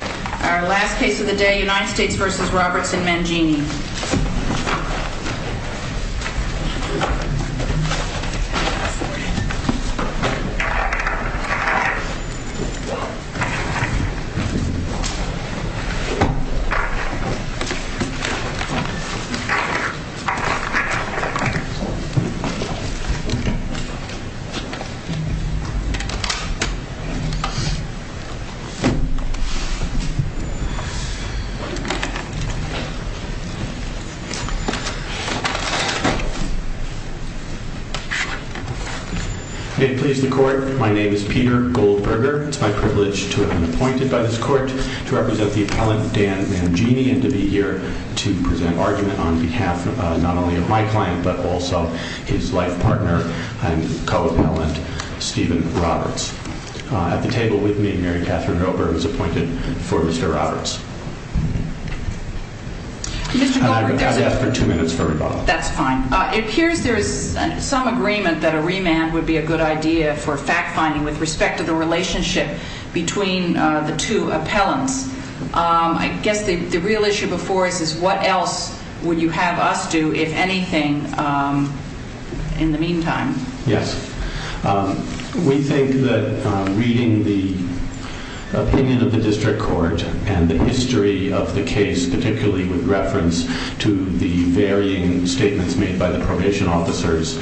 Our last case of the day, United States v. Roberts and Mangini. May it please the court, my name is Peter Goldberger, it's my privilege to be appointed by this court to represent the appellant Dan Mangini and to be here to present argument on behalf not only of my client but also his life partner and co-appellant Stephen Roberts. It appears there is some agreement that a remand would be a good idea for fact-finding with respect to the relationship between the two appellants. I guess the real issue before us is what else would you have us do, if anything, in the meantime? Yes, we think that reading the opinion of the district court and the history of the case, particularly with reference to the varying statements made by the probation officers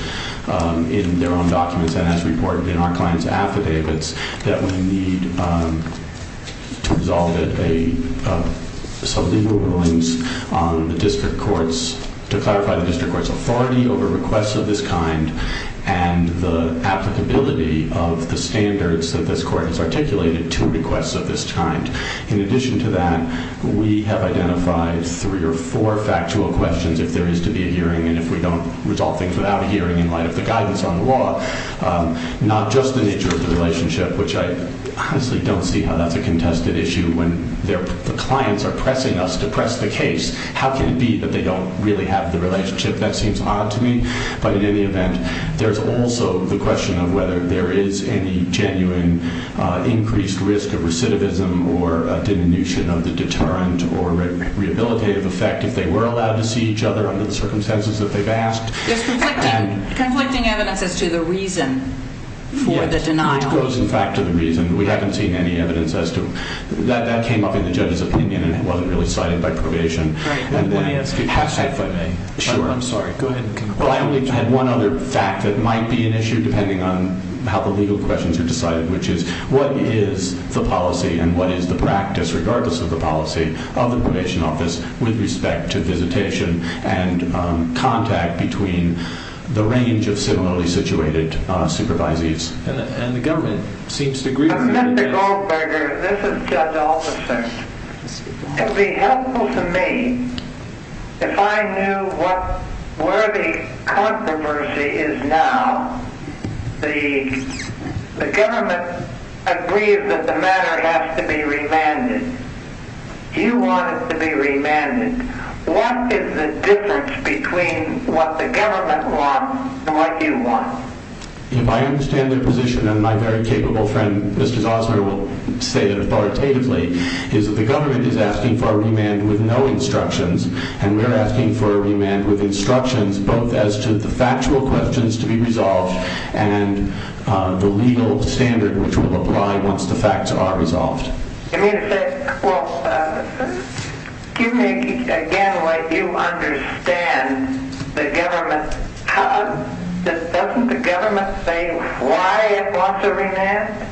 in their own documents and as reported in our client's affidavits, that we need to resolve a, some legal rulings on the district court's, to clarify the district court's authority over requests of this kind and the applicability of the standards that this court has articulated to requests of this kind. In addition to that, we have identified three or four factual questions if there is to be a hearing and if we don't resolve things without a hearing in light of the guidance on the law, not just the nature of the relationship, which I honestly don't see how that's a contested issue when the clients are pressing us to press the case. How can it be that they don't really have the relationship? That seems odd to me, but in any event, there's also the question of whether there is any genuine increased risk of recidivism or a diminution of the deterrent or rehabilitative effect if they were allowed to see each other under the circumstances that they've asked. There's conflicting, conflicting evidence as to the reason for the denial. It goes in fact to the reason. We haven't seen any evidence as to, that came up in the judge's opinion and it wasn't really cited by probation. Right. Let me ask you. If I may. Sure. I'm sorry. Go ahead. I only had one other fact that might be an issue depending on how the legal questions are decided, which is what is the policy and what is the practice regardless of the policy of the probation office with respect to visitation and contact between the range of similarly situated supervisees? And the government seems to agree with that. Mr. Goldberger, this is Judge Alderson. It would be helpful to me if I knew what, where the controversy is now, the, the government agrees that the matter has to be remanded. You want it to be remanded. What is the difference between what the government wants and what you want? If I understand their position and my very capable friend, Mr. Osler will say that authoritatively, is that the government is asking for a remand with no instructions and we're asking for a remand with instructions both as to the factual questions to be resolved and the legal standard which will apply once the facts are resolved. Give me a second. Well, give me again what you understand the government. Doesn't the government say why it wants a remand?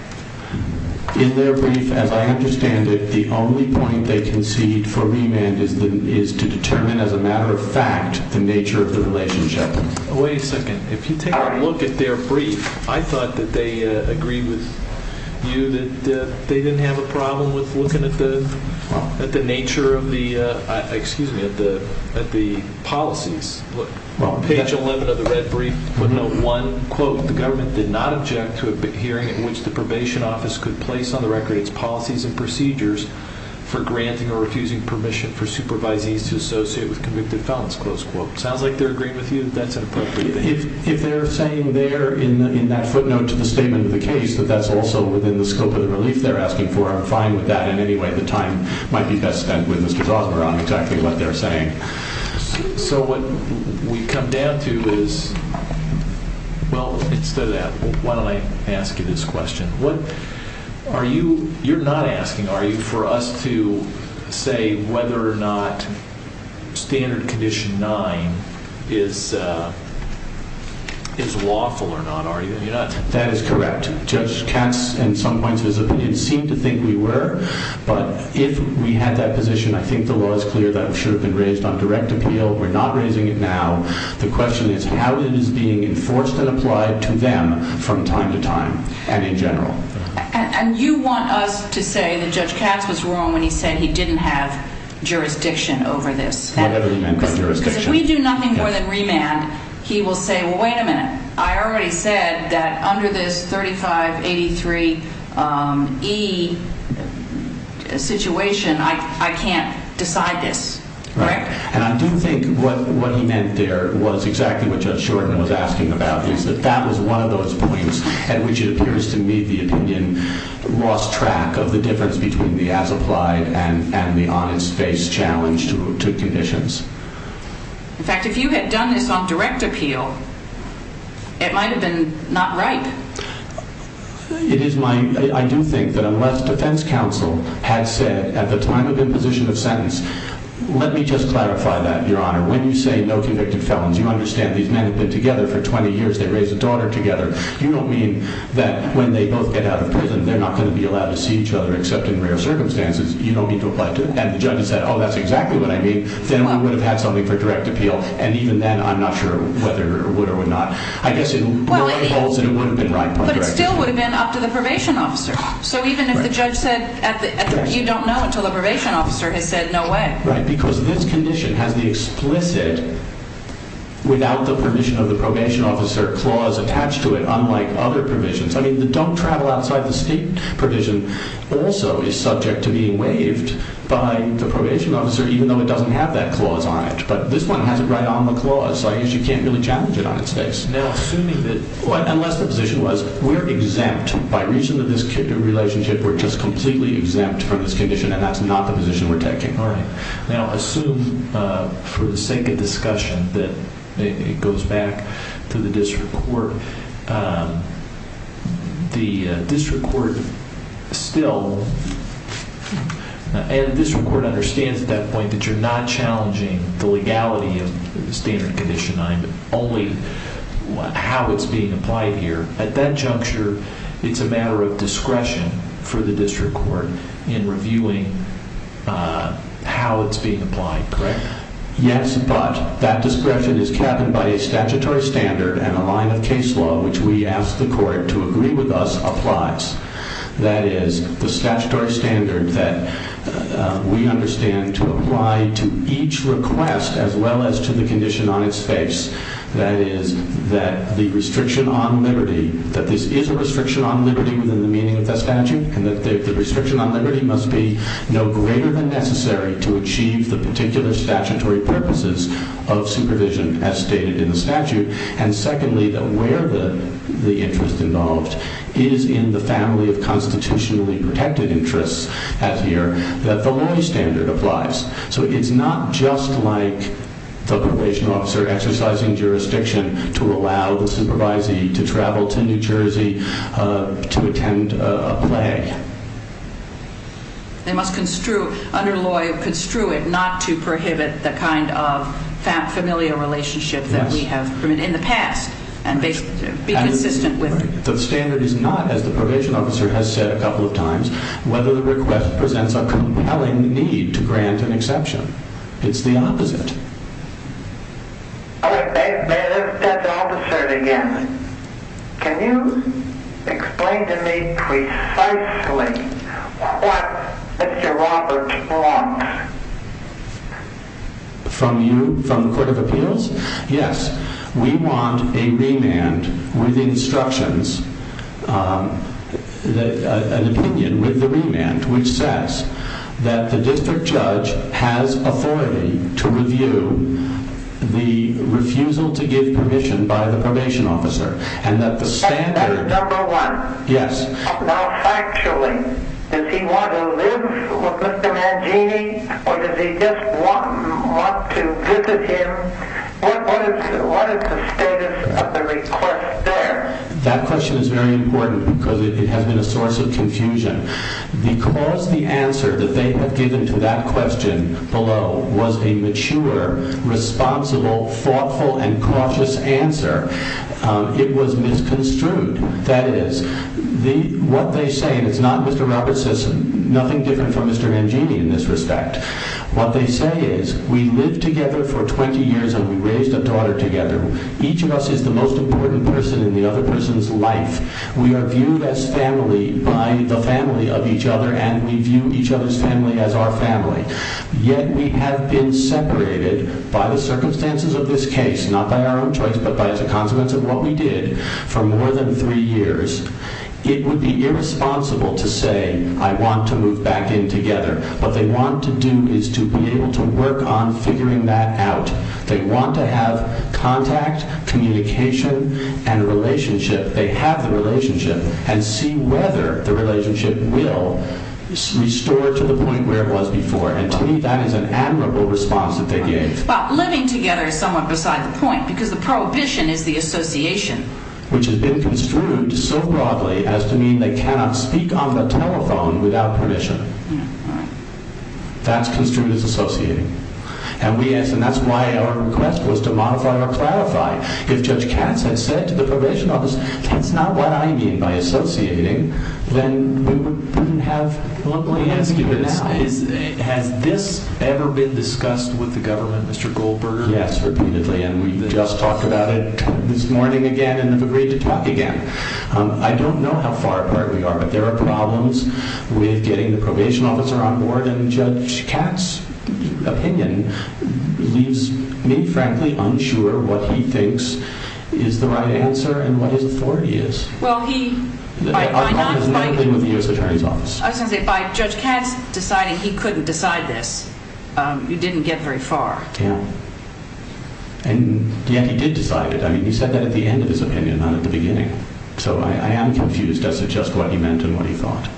In their brief, as I understand it, the only point they concede for remand is, is to determine as a matter of fact, the nature of the relationship. Wait a second. If you take a look at their brief, I thought that they agree with you that they didn't have a problem with looking at the, at the nature of the, excuse me, at the, at the policies. Look, page 11 of the red brief would note one quote, the government did not object to hearing in which the probation office could place on the record its policies and procedures for granting or refusing permission for supervisees to associate with convicted felons, close quote. Sounds like they're agreeing with you that that's inappropriate. If they're saying there in that footnote to the statement of the case that that's also within the scope of the relief they're asking for, I'm fine with that in any way. The time might be best spent with Mr. Osler on exactly what they're saying. Okay. So what we've come down to is, well, instead of that, why don't I ask you this question? What are you, you're not asking, are you, for us to say whether or not standard condition nine is, is lawful or not, are you? That is correct. Judge Katz in some points, it seemed to think we were, but if we had that position, I think the law is clear that it should have been raised on direct appeal. We're not raising it now. The question is how it is being enforced and applied to them from time to time and in general. And you want us to say that Judge Katz was wrong when he said he didn't have jurisdiction over this. Whatever he meant by jurisdiction. Because if we do nothing more than remand, he will say, well, wait a minute. I already said that under this 3583 E situation, I, I can't decide this. Right. And I do think what, what he meant there was exactly what Judge Shorten was asking about is that that was one of those points at which it appears to me the opinion lost track of the difference between the as applied and, and the honest face challenge to, to conditions. In fact, if you had done this on direct appeal, it might've been not right. It is my, I do think that unless defense counsel had said at the time of imposition of sentence, let me just clarify that your honor. When you say no convicted felons, you understand these men have been together for 20 years. They raised a daughter together. You don't mean that when they both get out of prison, they're not going to be allowed to see each other except in rare circumstances. You don't need to apply to it. And the judge has said, oh, that's exactly what I mean. Then we would have had something for direct appeal. And even then, I'm not sure whether it would or would not, I guess it would have been right. But it still would have been up to the probation officer. So even if the judge said at the, you don't know until the probation officer has said no way. Right. Because this condition has the explicit, without the permission of the probation officer clause attached to it, unlike other provisions. I mean, the don't travel outside the state provision also is subject to being waived by the probation officer, even though it doesn't have that clause on it. But this one has it right on the clause. So I guess you can't really challenge it on its face. Now, assuming that. Unless the position was we're exempt by reason of this relationship, we're just completely exempt from this condition. And that's not the position we're taking. All right. Now assume for the sake of discussion that it goes back to the district court. The district court still, and district court understands at that point that you're not challenging the legality of the standard condition on it, only how it's being applied here. At that juncture, it's a matter of discretion for the district court in reviewing how it's being applied. Correct? Yes. But that discretion is cabined by a statutory standard and a line of case law, which we ask the court to agree with us applies. That is the statutory standard that we understand to apply to each request, as well as to the condition on its face. That is that the restriction on liberty, that this is a restriction on liberty within the meaning of the statute, and that the restriction on liberty must be no greater than necessary to achieve the particular statutory purposes of supervision as stated in the statute. And secondly, that where the interest involved is in the family of constitutionally protected interests, as here, that the law standard applies. So it's not just like the probation officer exercising jurisdiction to allow the supervisee to grant an exception. They must construe, under law, construe it not to prohibit the kind of familial relationship that we have in the past, and be consistent with it. The standard is not, as the probation officer has said a couple of times, whether the request presents a compelling need to grant an exception. It's the opposite. Okay, may I ask that officer again, can you explain to me precisely what Mr. Roberts wants? From you, from the Court of Appeals? Yes. We want a remand with instructions, an opinion with the remand, which says that the district judge has authority to review the refusal to give permission by the probation officer. That's number one. Yes. Now factually, does he want to live with Mr. Mangini, or does he just want to visit him? What is the status of the request there? That question is very important because it has been a source of confusion. Because the answer that they have given to that question below was a mature, responsible, thoughtful, and cautious answer, it was misconstrued. That is, what they say, and it's not Mr. Roberts says nothing different from Mr. Mangini in this respect. What they say is, we lived together for 20 years and we raised a daughter together. Each of us is the most important person in the other person's life. We are viewed as family by the family of each other, and we view each other's family as our family. Yet we have been separated by the circumstances of this case, not by our own choice, but as a consequence of what we did for more than three years. It would be irresponsible to say, I want to move back in together. What they want to do is to be able to work on figuring that out. They want to have contact, communication, and relationship. They have the relationship, and see whether the relationship will restore to the point where it was before. To me, that is an admirable response that they gave. Living together is somewhat beside the point, because the prohibition is the association. Which has been construed so broadly as to mean they cannot speak on the telephone without permission. That's construed as associating. That's why our request was to modify or clarify. If Judge Katz had said to the probation officer, that's not what I mean by associating, then we wouldn't have... Let me ask you this. Has this ever been discussed with the government, Mr. Goldberger? Yes, repeatedly, and we just talked about it this morning again, and have agreed to talk again. I don't know how far apart we are, but there are problems with getting the probation officer on board, and Judge Katz's opinion leaves me, frankly, unsure what he thinks is the right answer, and what his authority is. Well, he... By not... I was going to say, by Judge Katz deciding he couldn't decide this, you didn't get very far. Yeah. And yet, he did decide it. I mean, he said that at the end of his opinion, not at the beginning. So, I am confused as to just what he meant and what he thought.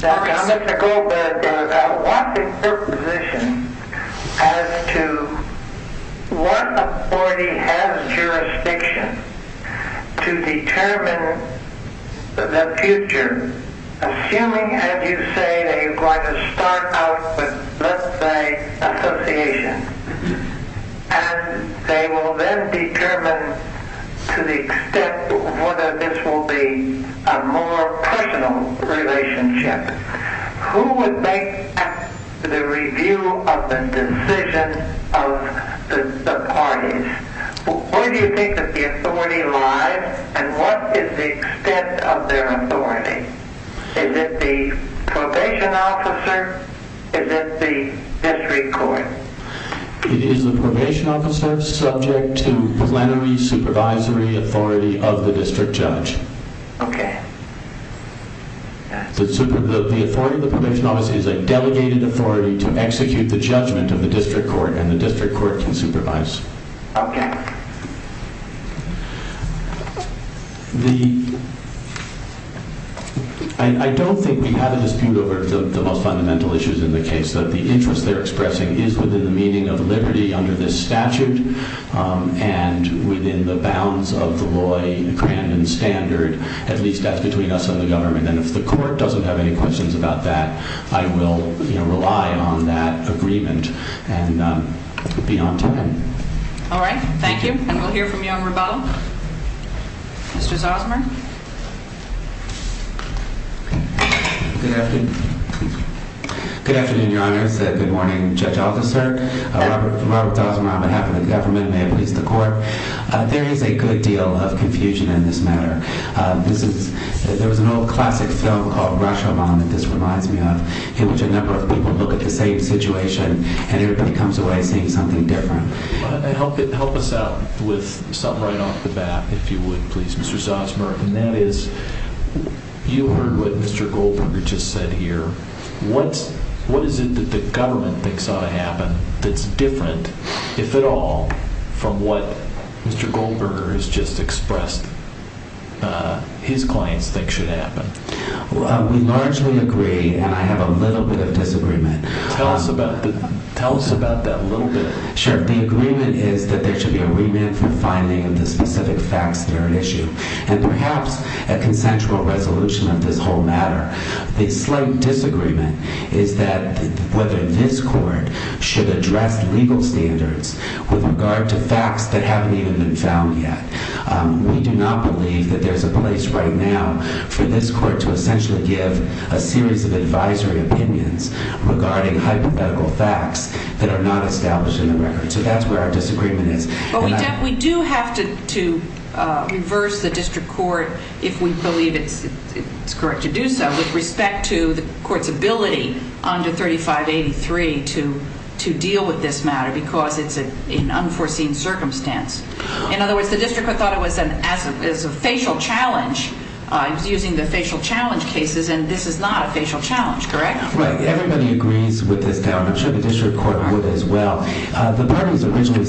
Now, Mr. Goldberger, what's your position as to what authority has jurisdiction to determine the future, assuming, as you say, that you're going to start out with, let's say, association, and they will then determine to the extent whether this will be a more personal relationship. Who would make the review of the decision of the parties? Where do you think that the authority lies, and what is the extent of their authority? Is it the probation officer? Is it the district court? It is the probation officer subject to plenary supervisory authority of the district judge. Okay. The authority of the probation officer is a delegated authority to execute the judgment of the district court, and the district court can supervise. Okay. I don't think we have a dispute over the most fundamental issues in the case, that the interest they're expressing is within the meaning of liberty under this statute and within the bounds of the Loy-Crandon standard. At least, that's between us and the government. And if the court doesn't have any questions about that, I will rely on that agreement and be on time. All right. Thank you. Thank you. And we'll hear from you on rebuttal. Mr. Zosmer. Good afternoon. Good afternoon, Your Honor. It's a good morning. Judge Altaster. Robert Zosmer on behalf of the government. May it please the court. There is a good deal of confusion in this matter. There was an old classic film called Rashomon that this reminds me of, in which a number of people look at the same situation and everybody comes away seeing something different. Help us out with something right off the bat, if you would, please, Mr. Zosmer. And that is, you heard what Mr. Goldberger just said here. What is it that the government thinks ought to happen that's different, if at all, from what Mr. Goldberger has just expressed his clients think should happen? We largely agree and I have a little bit of disagreement. Tell us about that little bit. Sure. The agreement is that there should be a remand for finding of the specific facts that are at issue. And perhaps a consensual resolution of this whole matter. The slight disagreement is that whether this court should address legal standards with regard to facts that haven't even been found yet. We do not believe that there's a place right now for this court to essentially give a series of advisory opinions regarding hypothetical facts that are not established in the record. So that's where our disagreement is. But we do have to reverse the district court if we believe it's correct to do so with respect to the court's ability under 3583 to deal with this matter because it's an unforeseen circumstance. In other words, the district court thought it was a facial challenge. It was using the facial challenge cases and this is not a facial challenge, correct? Right. Everybody agrees with this doubt. I'm sure the district court would as well. The party's original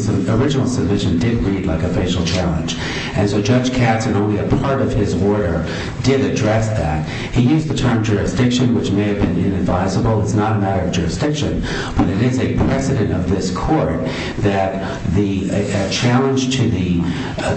submission did read like a facial challenge. And so Judge Katz in only a part of his order did address that. He used the term jurisdiction which may have been inadvisable. It's not a matter of jurisdiction but it is a precedent of this court that the challenge to the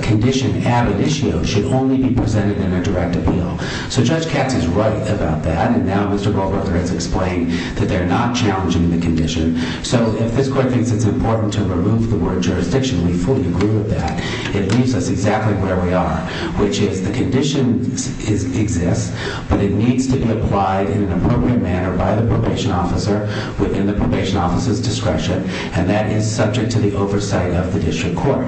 condition added issue should only be presented in a direct appeal. So Judge Katz is right about that and now Mr. Goldberger has explained that they're not challenging the condition. So if this court thinks it's important to remove the word jurisdiction we fully agree with that. It leaves us exactly where we are which is the condition exists but it needs to be applied in an appropriate manner by the probation officer within the probation officer's discretion and that is subject to the oversight of the district court.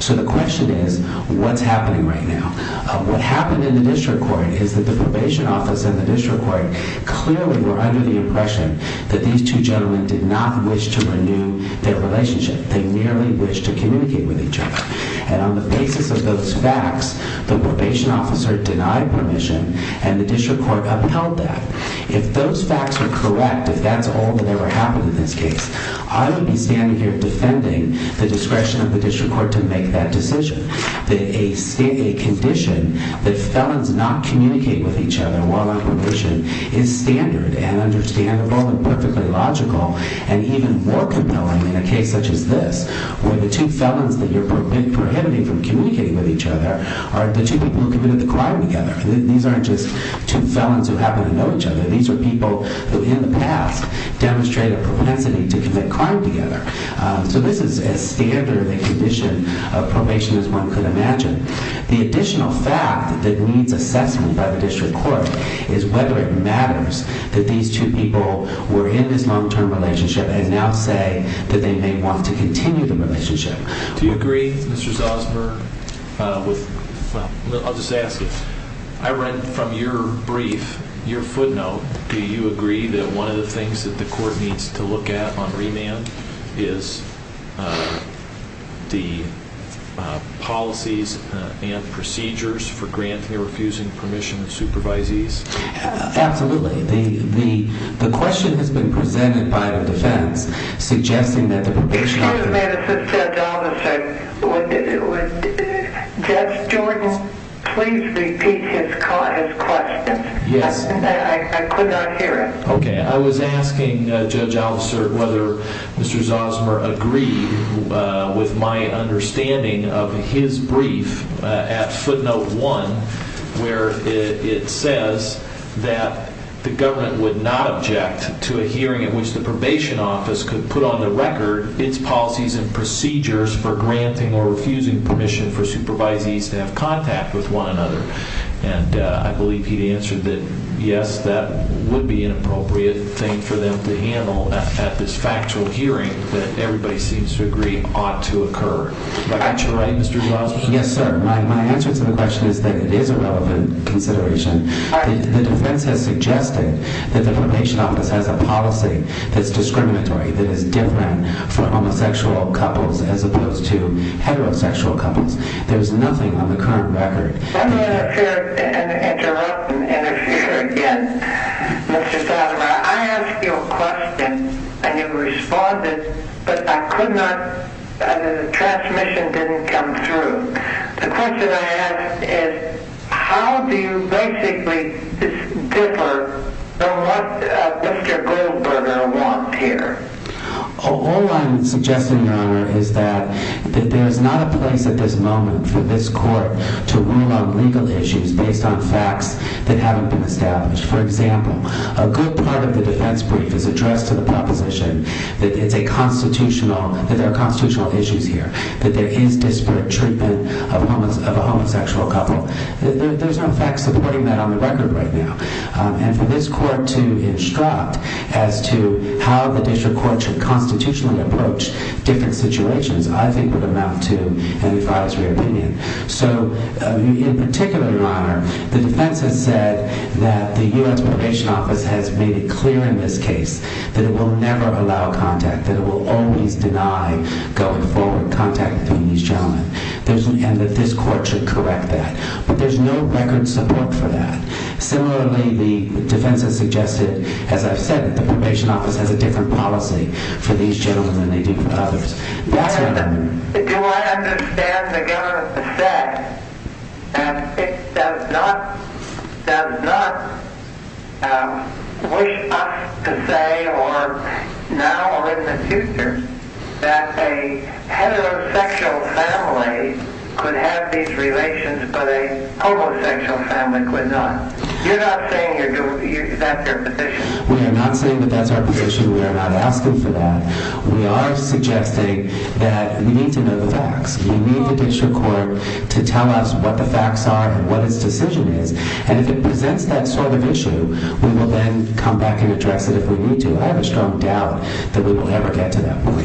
So the question is what's happening right now? What happened in the district court is that the probation officer and the district court clearly were under the impression that these two gentlemen did not wish to renew their relationship. They merely wished to communicate with each other. And on the basis of those facts the probation officer denied permission and the district court upheld that. If those facts were correct if that's all that ever happened in this case I would be standing here defending the discretion of the district court to make that decision. That a condition that felons not communicate with each other while on probation is standard and understandable and perfectly logical and even more compelling in a case such as this where the two felons that you're prohibiting from communicating with each other are the two people who committed the crime together. These aren't just two felons who happen to know each other. These are people who in the past demonstrated a propensity to commit crime together. So this is a standard condition of probation as one could imagine. The additional fact that needs assessment by the district court is whether it matters that these two people were in this long term relationship and now say that they may want to continue the relationship. Do you agree Mr. Zosmer with I'll just ask you I read from your brief your footnote do you agree that one of the things that the court needs to look at upon remand is the policies and procedures for granting or refusing permission of supervisees? Absolutely. The question has been presented by the defense suggesting that the probation officer Excuse me assistant officer Judge Jordan please repeat his question I could not hear it. I was asking Judge Alvesert whether Mr. Zosmer agreed with my understanding of his brief at footnote 1 where it says that the government would not object to a hearing in which the probation office could put on the record its policies and procedures for granting or refusing permission for supervisees to have contact with one another and I believe he answered that yes that would be an appropriate thing for them to handle at this factual hearing that everybody seems to agree ought to occur Is that correct Mr. Zosmer? Yes sir. My answer to the question is that it is a relevant consideration The defense has suggested that the probation office has a policy that's discriminatory that is different for homosexual couples as opposed to heterosexual couples There is nothing on the current record Let me interrupt and interfere again Mr. Zosmer I asked you a question and you responded but the transmission didn't come through The question I ask is how do you basically differ from what Mr. Goldberger wants here All I'm suggesting your honor is that there is not a place at this moment for this court to rule on legal issues based on facts that haven't been established For example, a good part of the defense brief is addressed to the proposition that it's a constitutional that there are constitutional issues here that there is disparate treatment of a homosexual couple There's no facts supporting that on the record right now and for this court to instruct as to how the district court should constitutionally approach different situations I think would amount to an advisory opinion So in particular, your honor the defense has said that the U.S. probation office has made it clear in this case that it will never allow contact, that it will always deny going forward contact between these gentlemen and that this court should correct that but there's no record support for that Similarly, the defense has suggested as I've said, the probation office has a different policy for these gentlemen than they do for others Do I understand the government to say that it does not does not wish us to say or now or in the future that a heterosexual family could have these relations but a homosexual family could not You're not saying that's your position We are not saying that that's our position We are not asking for that We are suggesting that we need to know the facts We need the district court to tell us what the facts are and what its decision is and if it presents that sort of issue we will then come back and address it if we need to. I have a strong doubt that we will ever get to that point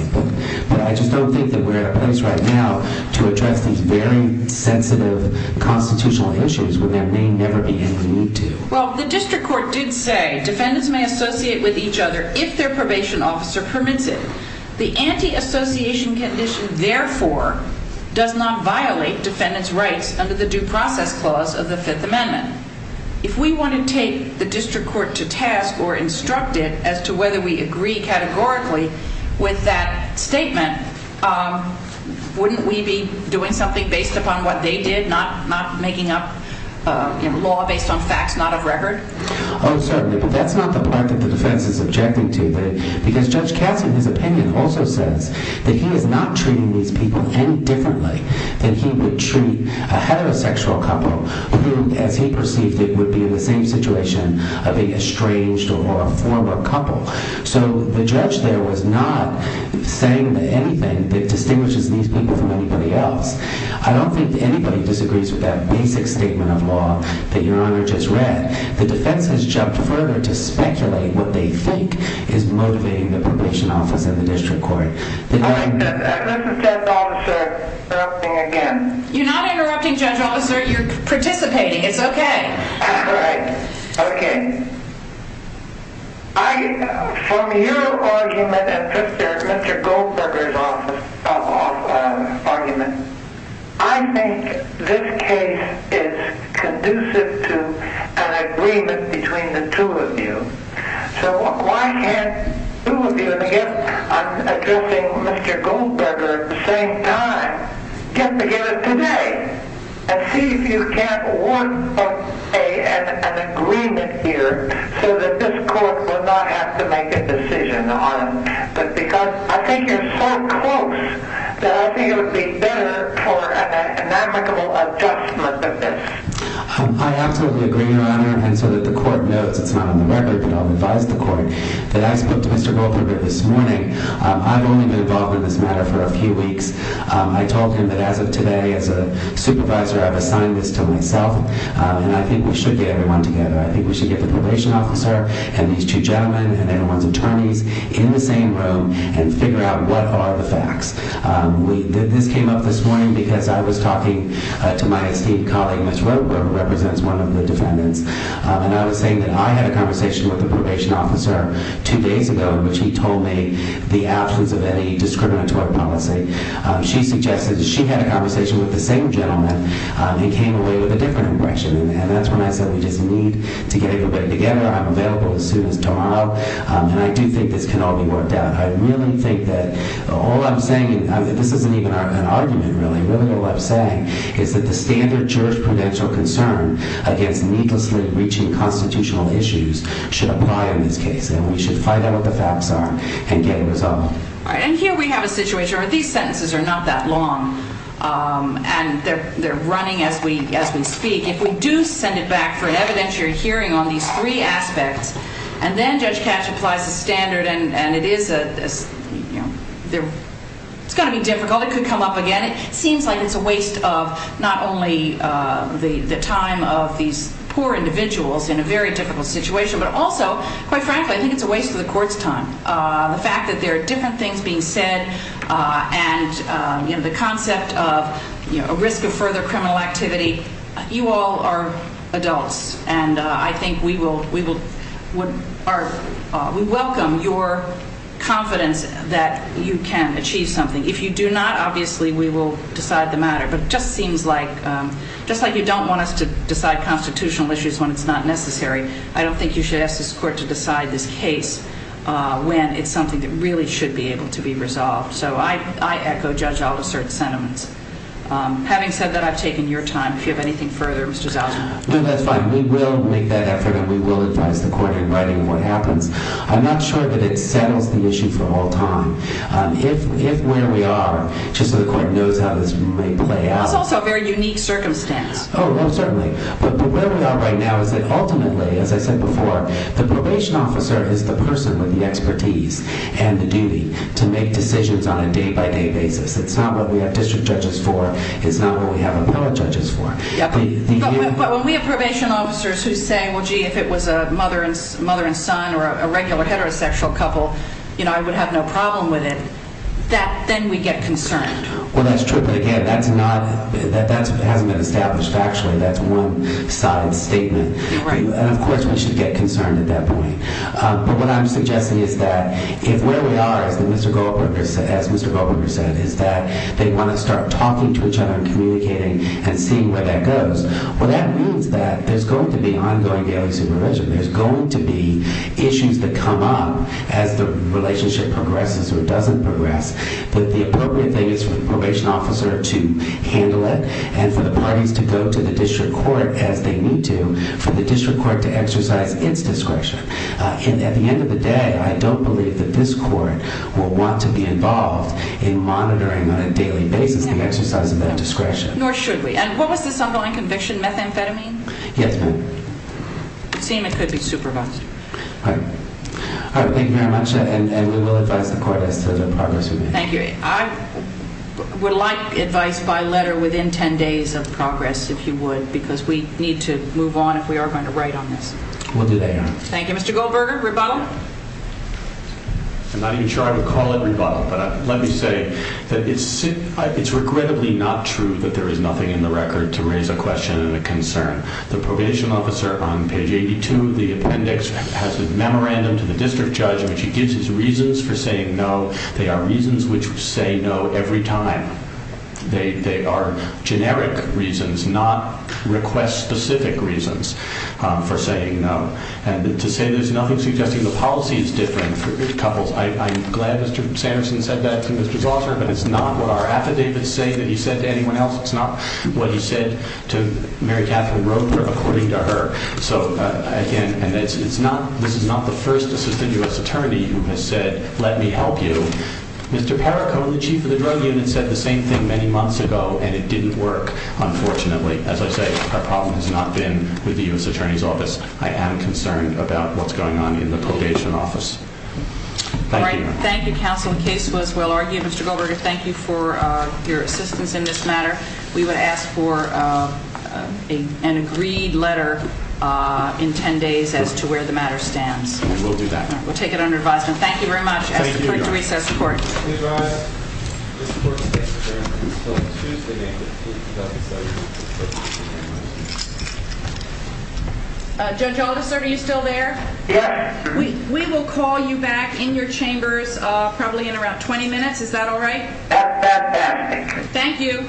but I just don't think that we're in a place right now to address these very sensitive constitutional issues when there may never be any need to Well, the district court did say that defendants may associate with each other if their probation officer permits it The anti-association condition therefore does not violate defendants' rights under the due process clause of the Fifth Amendment If we want to take the district court to task or instruct it as to whether we agree categorically with that statement wouldn't we be doing something based upon what they did, not making up law based on facts Oh, certainly but that's not the part that the defense is objecting to because Judge Cassie, in his opinion also says that he is not treating these people any differently than he would treat a heterosexual couple who, as he perceived it would be in the same situation of a estranged or a former couple. So the judge there was not saying anything that distinguishes these people from anybody else. I don't think anybody disagrees with that basic statement of law that your honor just read The defense has jumped further to speculate what they think is motivating the probation office and the district court Alright, this is Judge Officer interrupting again You're not interrupting Judge Officer You're participating, it's okay Alright, okay From your argument and Mr. Goldberger's argument I think that this case is conducive to an agreement between the two of you So why can't two of you, and again I'm addressing Mr. Goldberger at the same time, get together today and see if you can't work an agreement here so that this court will not have to make a decision on but because I think you're so close that I think it would be better for an amicable adjustment than this I absolutely agree your honor and so that the court knows, it's not on the record but I'll advise the court that I spoke to Mr. Goldberger this morning I've only been involved in this matter for a few weeks I told him that as of today as a supervisor I've assigned this to myself and I think we should get everyone together. I think we should get the probation officer and these two gentlemen and everyone's attorneys in the same room and figure out what are the facts This came up this morning because I was talking to my esteemed colleague Ms. Rotberg who represents one of the defendants and I was saying that I had a conversation with the probation officer two days ago in which he told me the absence of any discriminatory policy She suggested that she had a conversation with the same gentleman and came away with a different impression and that's when I said we just need to get everybody together I'm available as soon as tomorrow and I do think this can all be worked out I really think that all I'm saying, this isn't even an argument really, really all I'm saying is that the standard jurisprudential concern against needlessly reaching constitutional issues should apply in this case and we should find out what the facts are and get it resolved And here we have a situation where these sentences are not that long and they're running as we speak. If we do send it back for an evidentiary hearing on these three aspects and then Judge Katch applies the standard and it is you know it's going to be difficult, it could come up again it seems like it's a waste of not only the time of these poor individuals in a very difficult situation but also quite frankly I think it's a waste of the court's time the fact that there are different things being said and the concept of a risk of further criminal activity you all are adults and I think we will we welcome your confidence that you can achieve something if you do not obviously we will decide the matter but it just seems like just like you don't want us to decide constitutional issues when it's not necessary I don't think you should ask this court to decide this case when it's something that really should be able to be resolved so I echo Judge Alda certain sentiments having said that I've taken your time if you have anything further Mr. Zausman. No that's fine we will make that effort and we will advise the court in writing what happens I'm not sure that it settles the issue for all time if where we are just so the court knows how this may play out. It's also a very unique circumstance. Oh certainly but where we are right now is that ultimately as I said before the probation officer is the person with the expertise and the duty to make decisions on a day by day basis it's not what we have district judges for it's not what we have appellate judges for but when we have probation officers who say well gee if it was a mother and son or a regular heterosexual couple you know I would have no problem with it then we get concerned. Well that's true but again that's not that hasn't been established factually that's one side statement and of course we should get concerned at that point but what I'm suggesting is that if where we are as Mr. Goldberger said is that they want to start talking to each other and communicating and seeing where that goes well that means that there's going to be ongoing daily supervision there's going to be issues that come up as the relationship progresses or doesn't progress but the appropriate thing is for the probation officer to handle it and for the parties to go to the district court as they need to for the district court to exercise it's discretion that this court will want to be involved in monitoring on a what was this ongoing conviction methamphetamine I would like advice by letter within 10 days of progress if you would because we need to move on if we are going to write on this thank you Mr. Goldberger rebuttal I'm not even sure I would call it rebuttal but let me say that it's regrettably not true that there is nothing in the record to raise a question and a concern the probation officer on page 82 the appendix has a memorandum to the district judge in which he gives his reasons for saying no they are reasons which say no every time they are generic reasons not request specific reasons for saying no there's nothing suggesting the policy is different for couples I'm glad Mr. Sanderson said that to Mr. Zauser but it's not what our affidavits say that he said to anyone else it's not what he said to Mary Catherine Roper according to her so again this is not the first assistant U.S. attorney who has said let me help you Mr. Perricone the chief of the drug unit said the same thing many months ago and it didn't work unfortunately as I say our problem has not been with the U.S. attorney's office I am concerned about what's going on in the thank you counsel the case was well argued Mr. Goldberger thank you for your assistance in this matter we would ask for an agreed letter in 10 days as to where the matter stands we'll do that we'll take it under advice thank you very much please rise this court stands adjourned until Tuesday May 15, 2017 Judge Aldous are you still there? yes we will call you back in your chambers probably in around 20 minutes is that alright? that's best thank you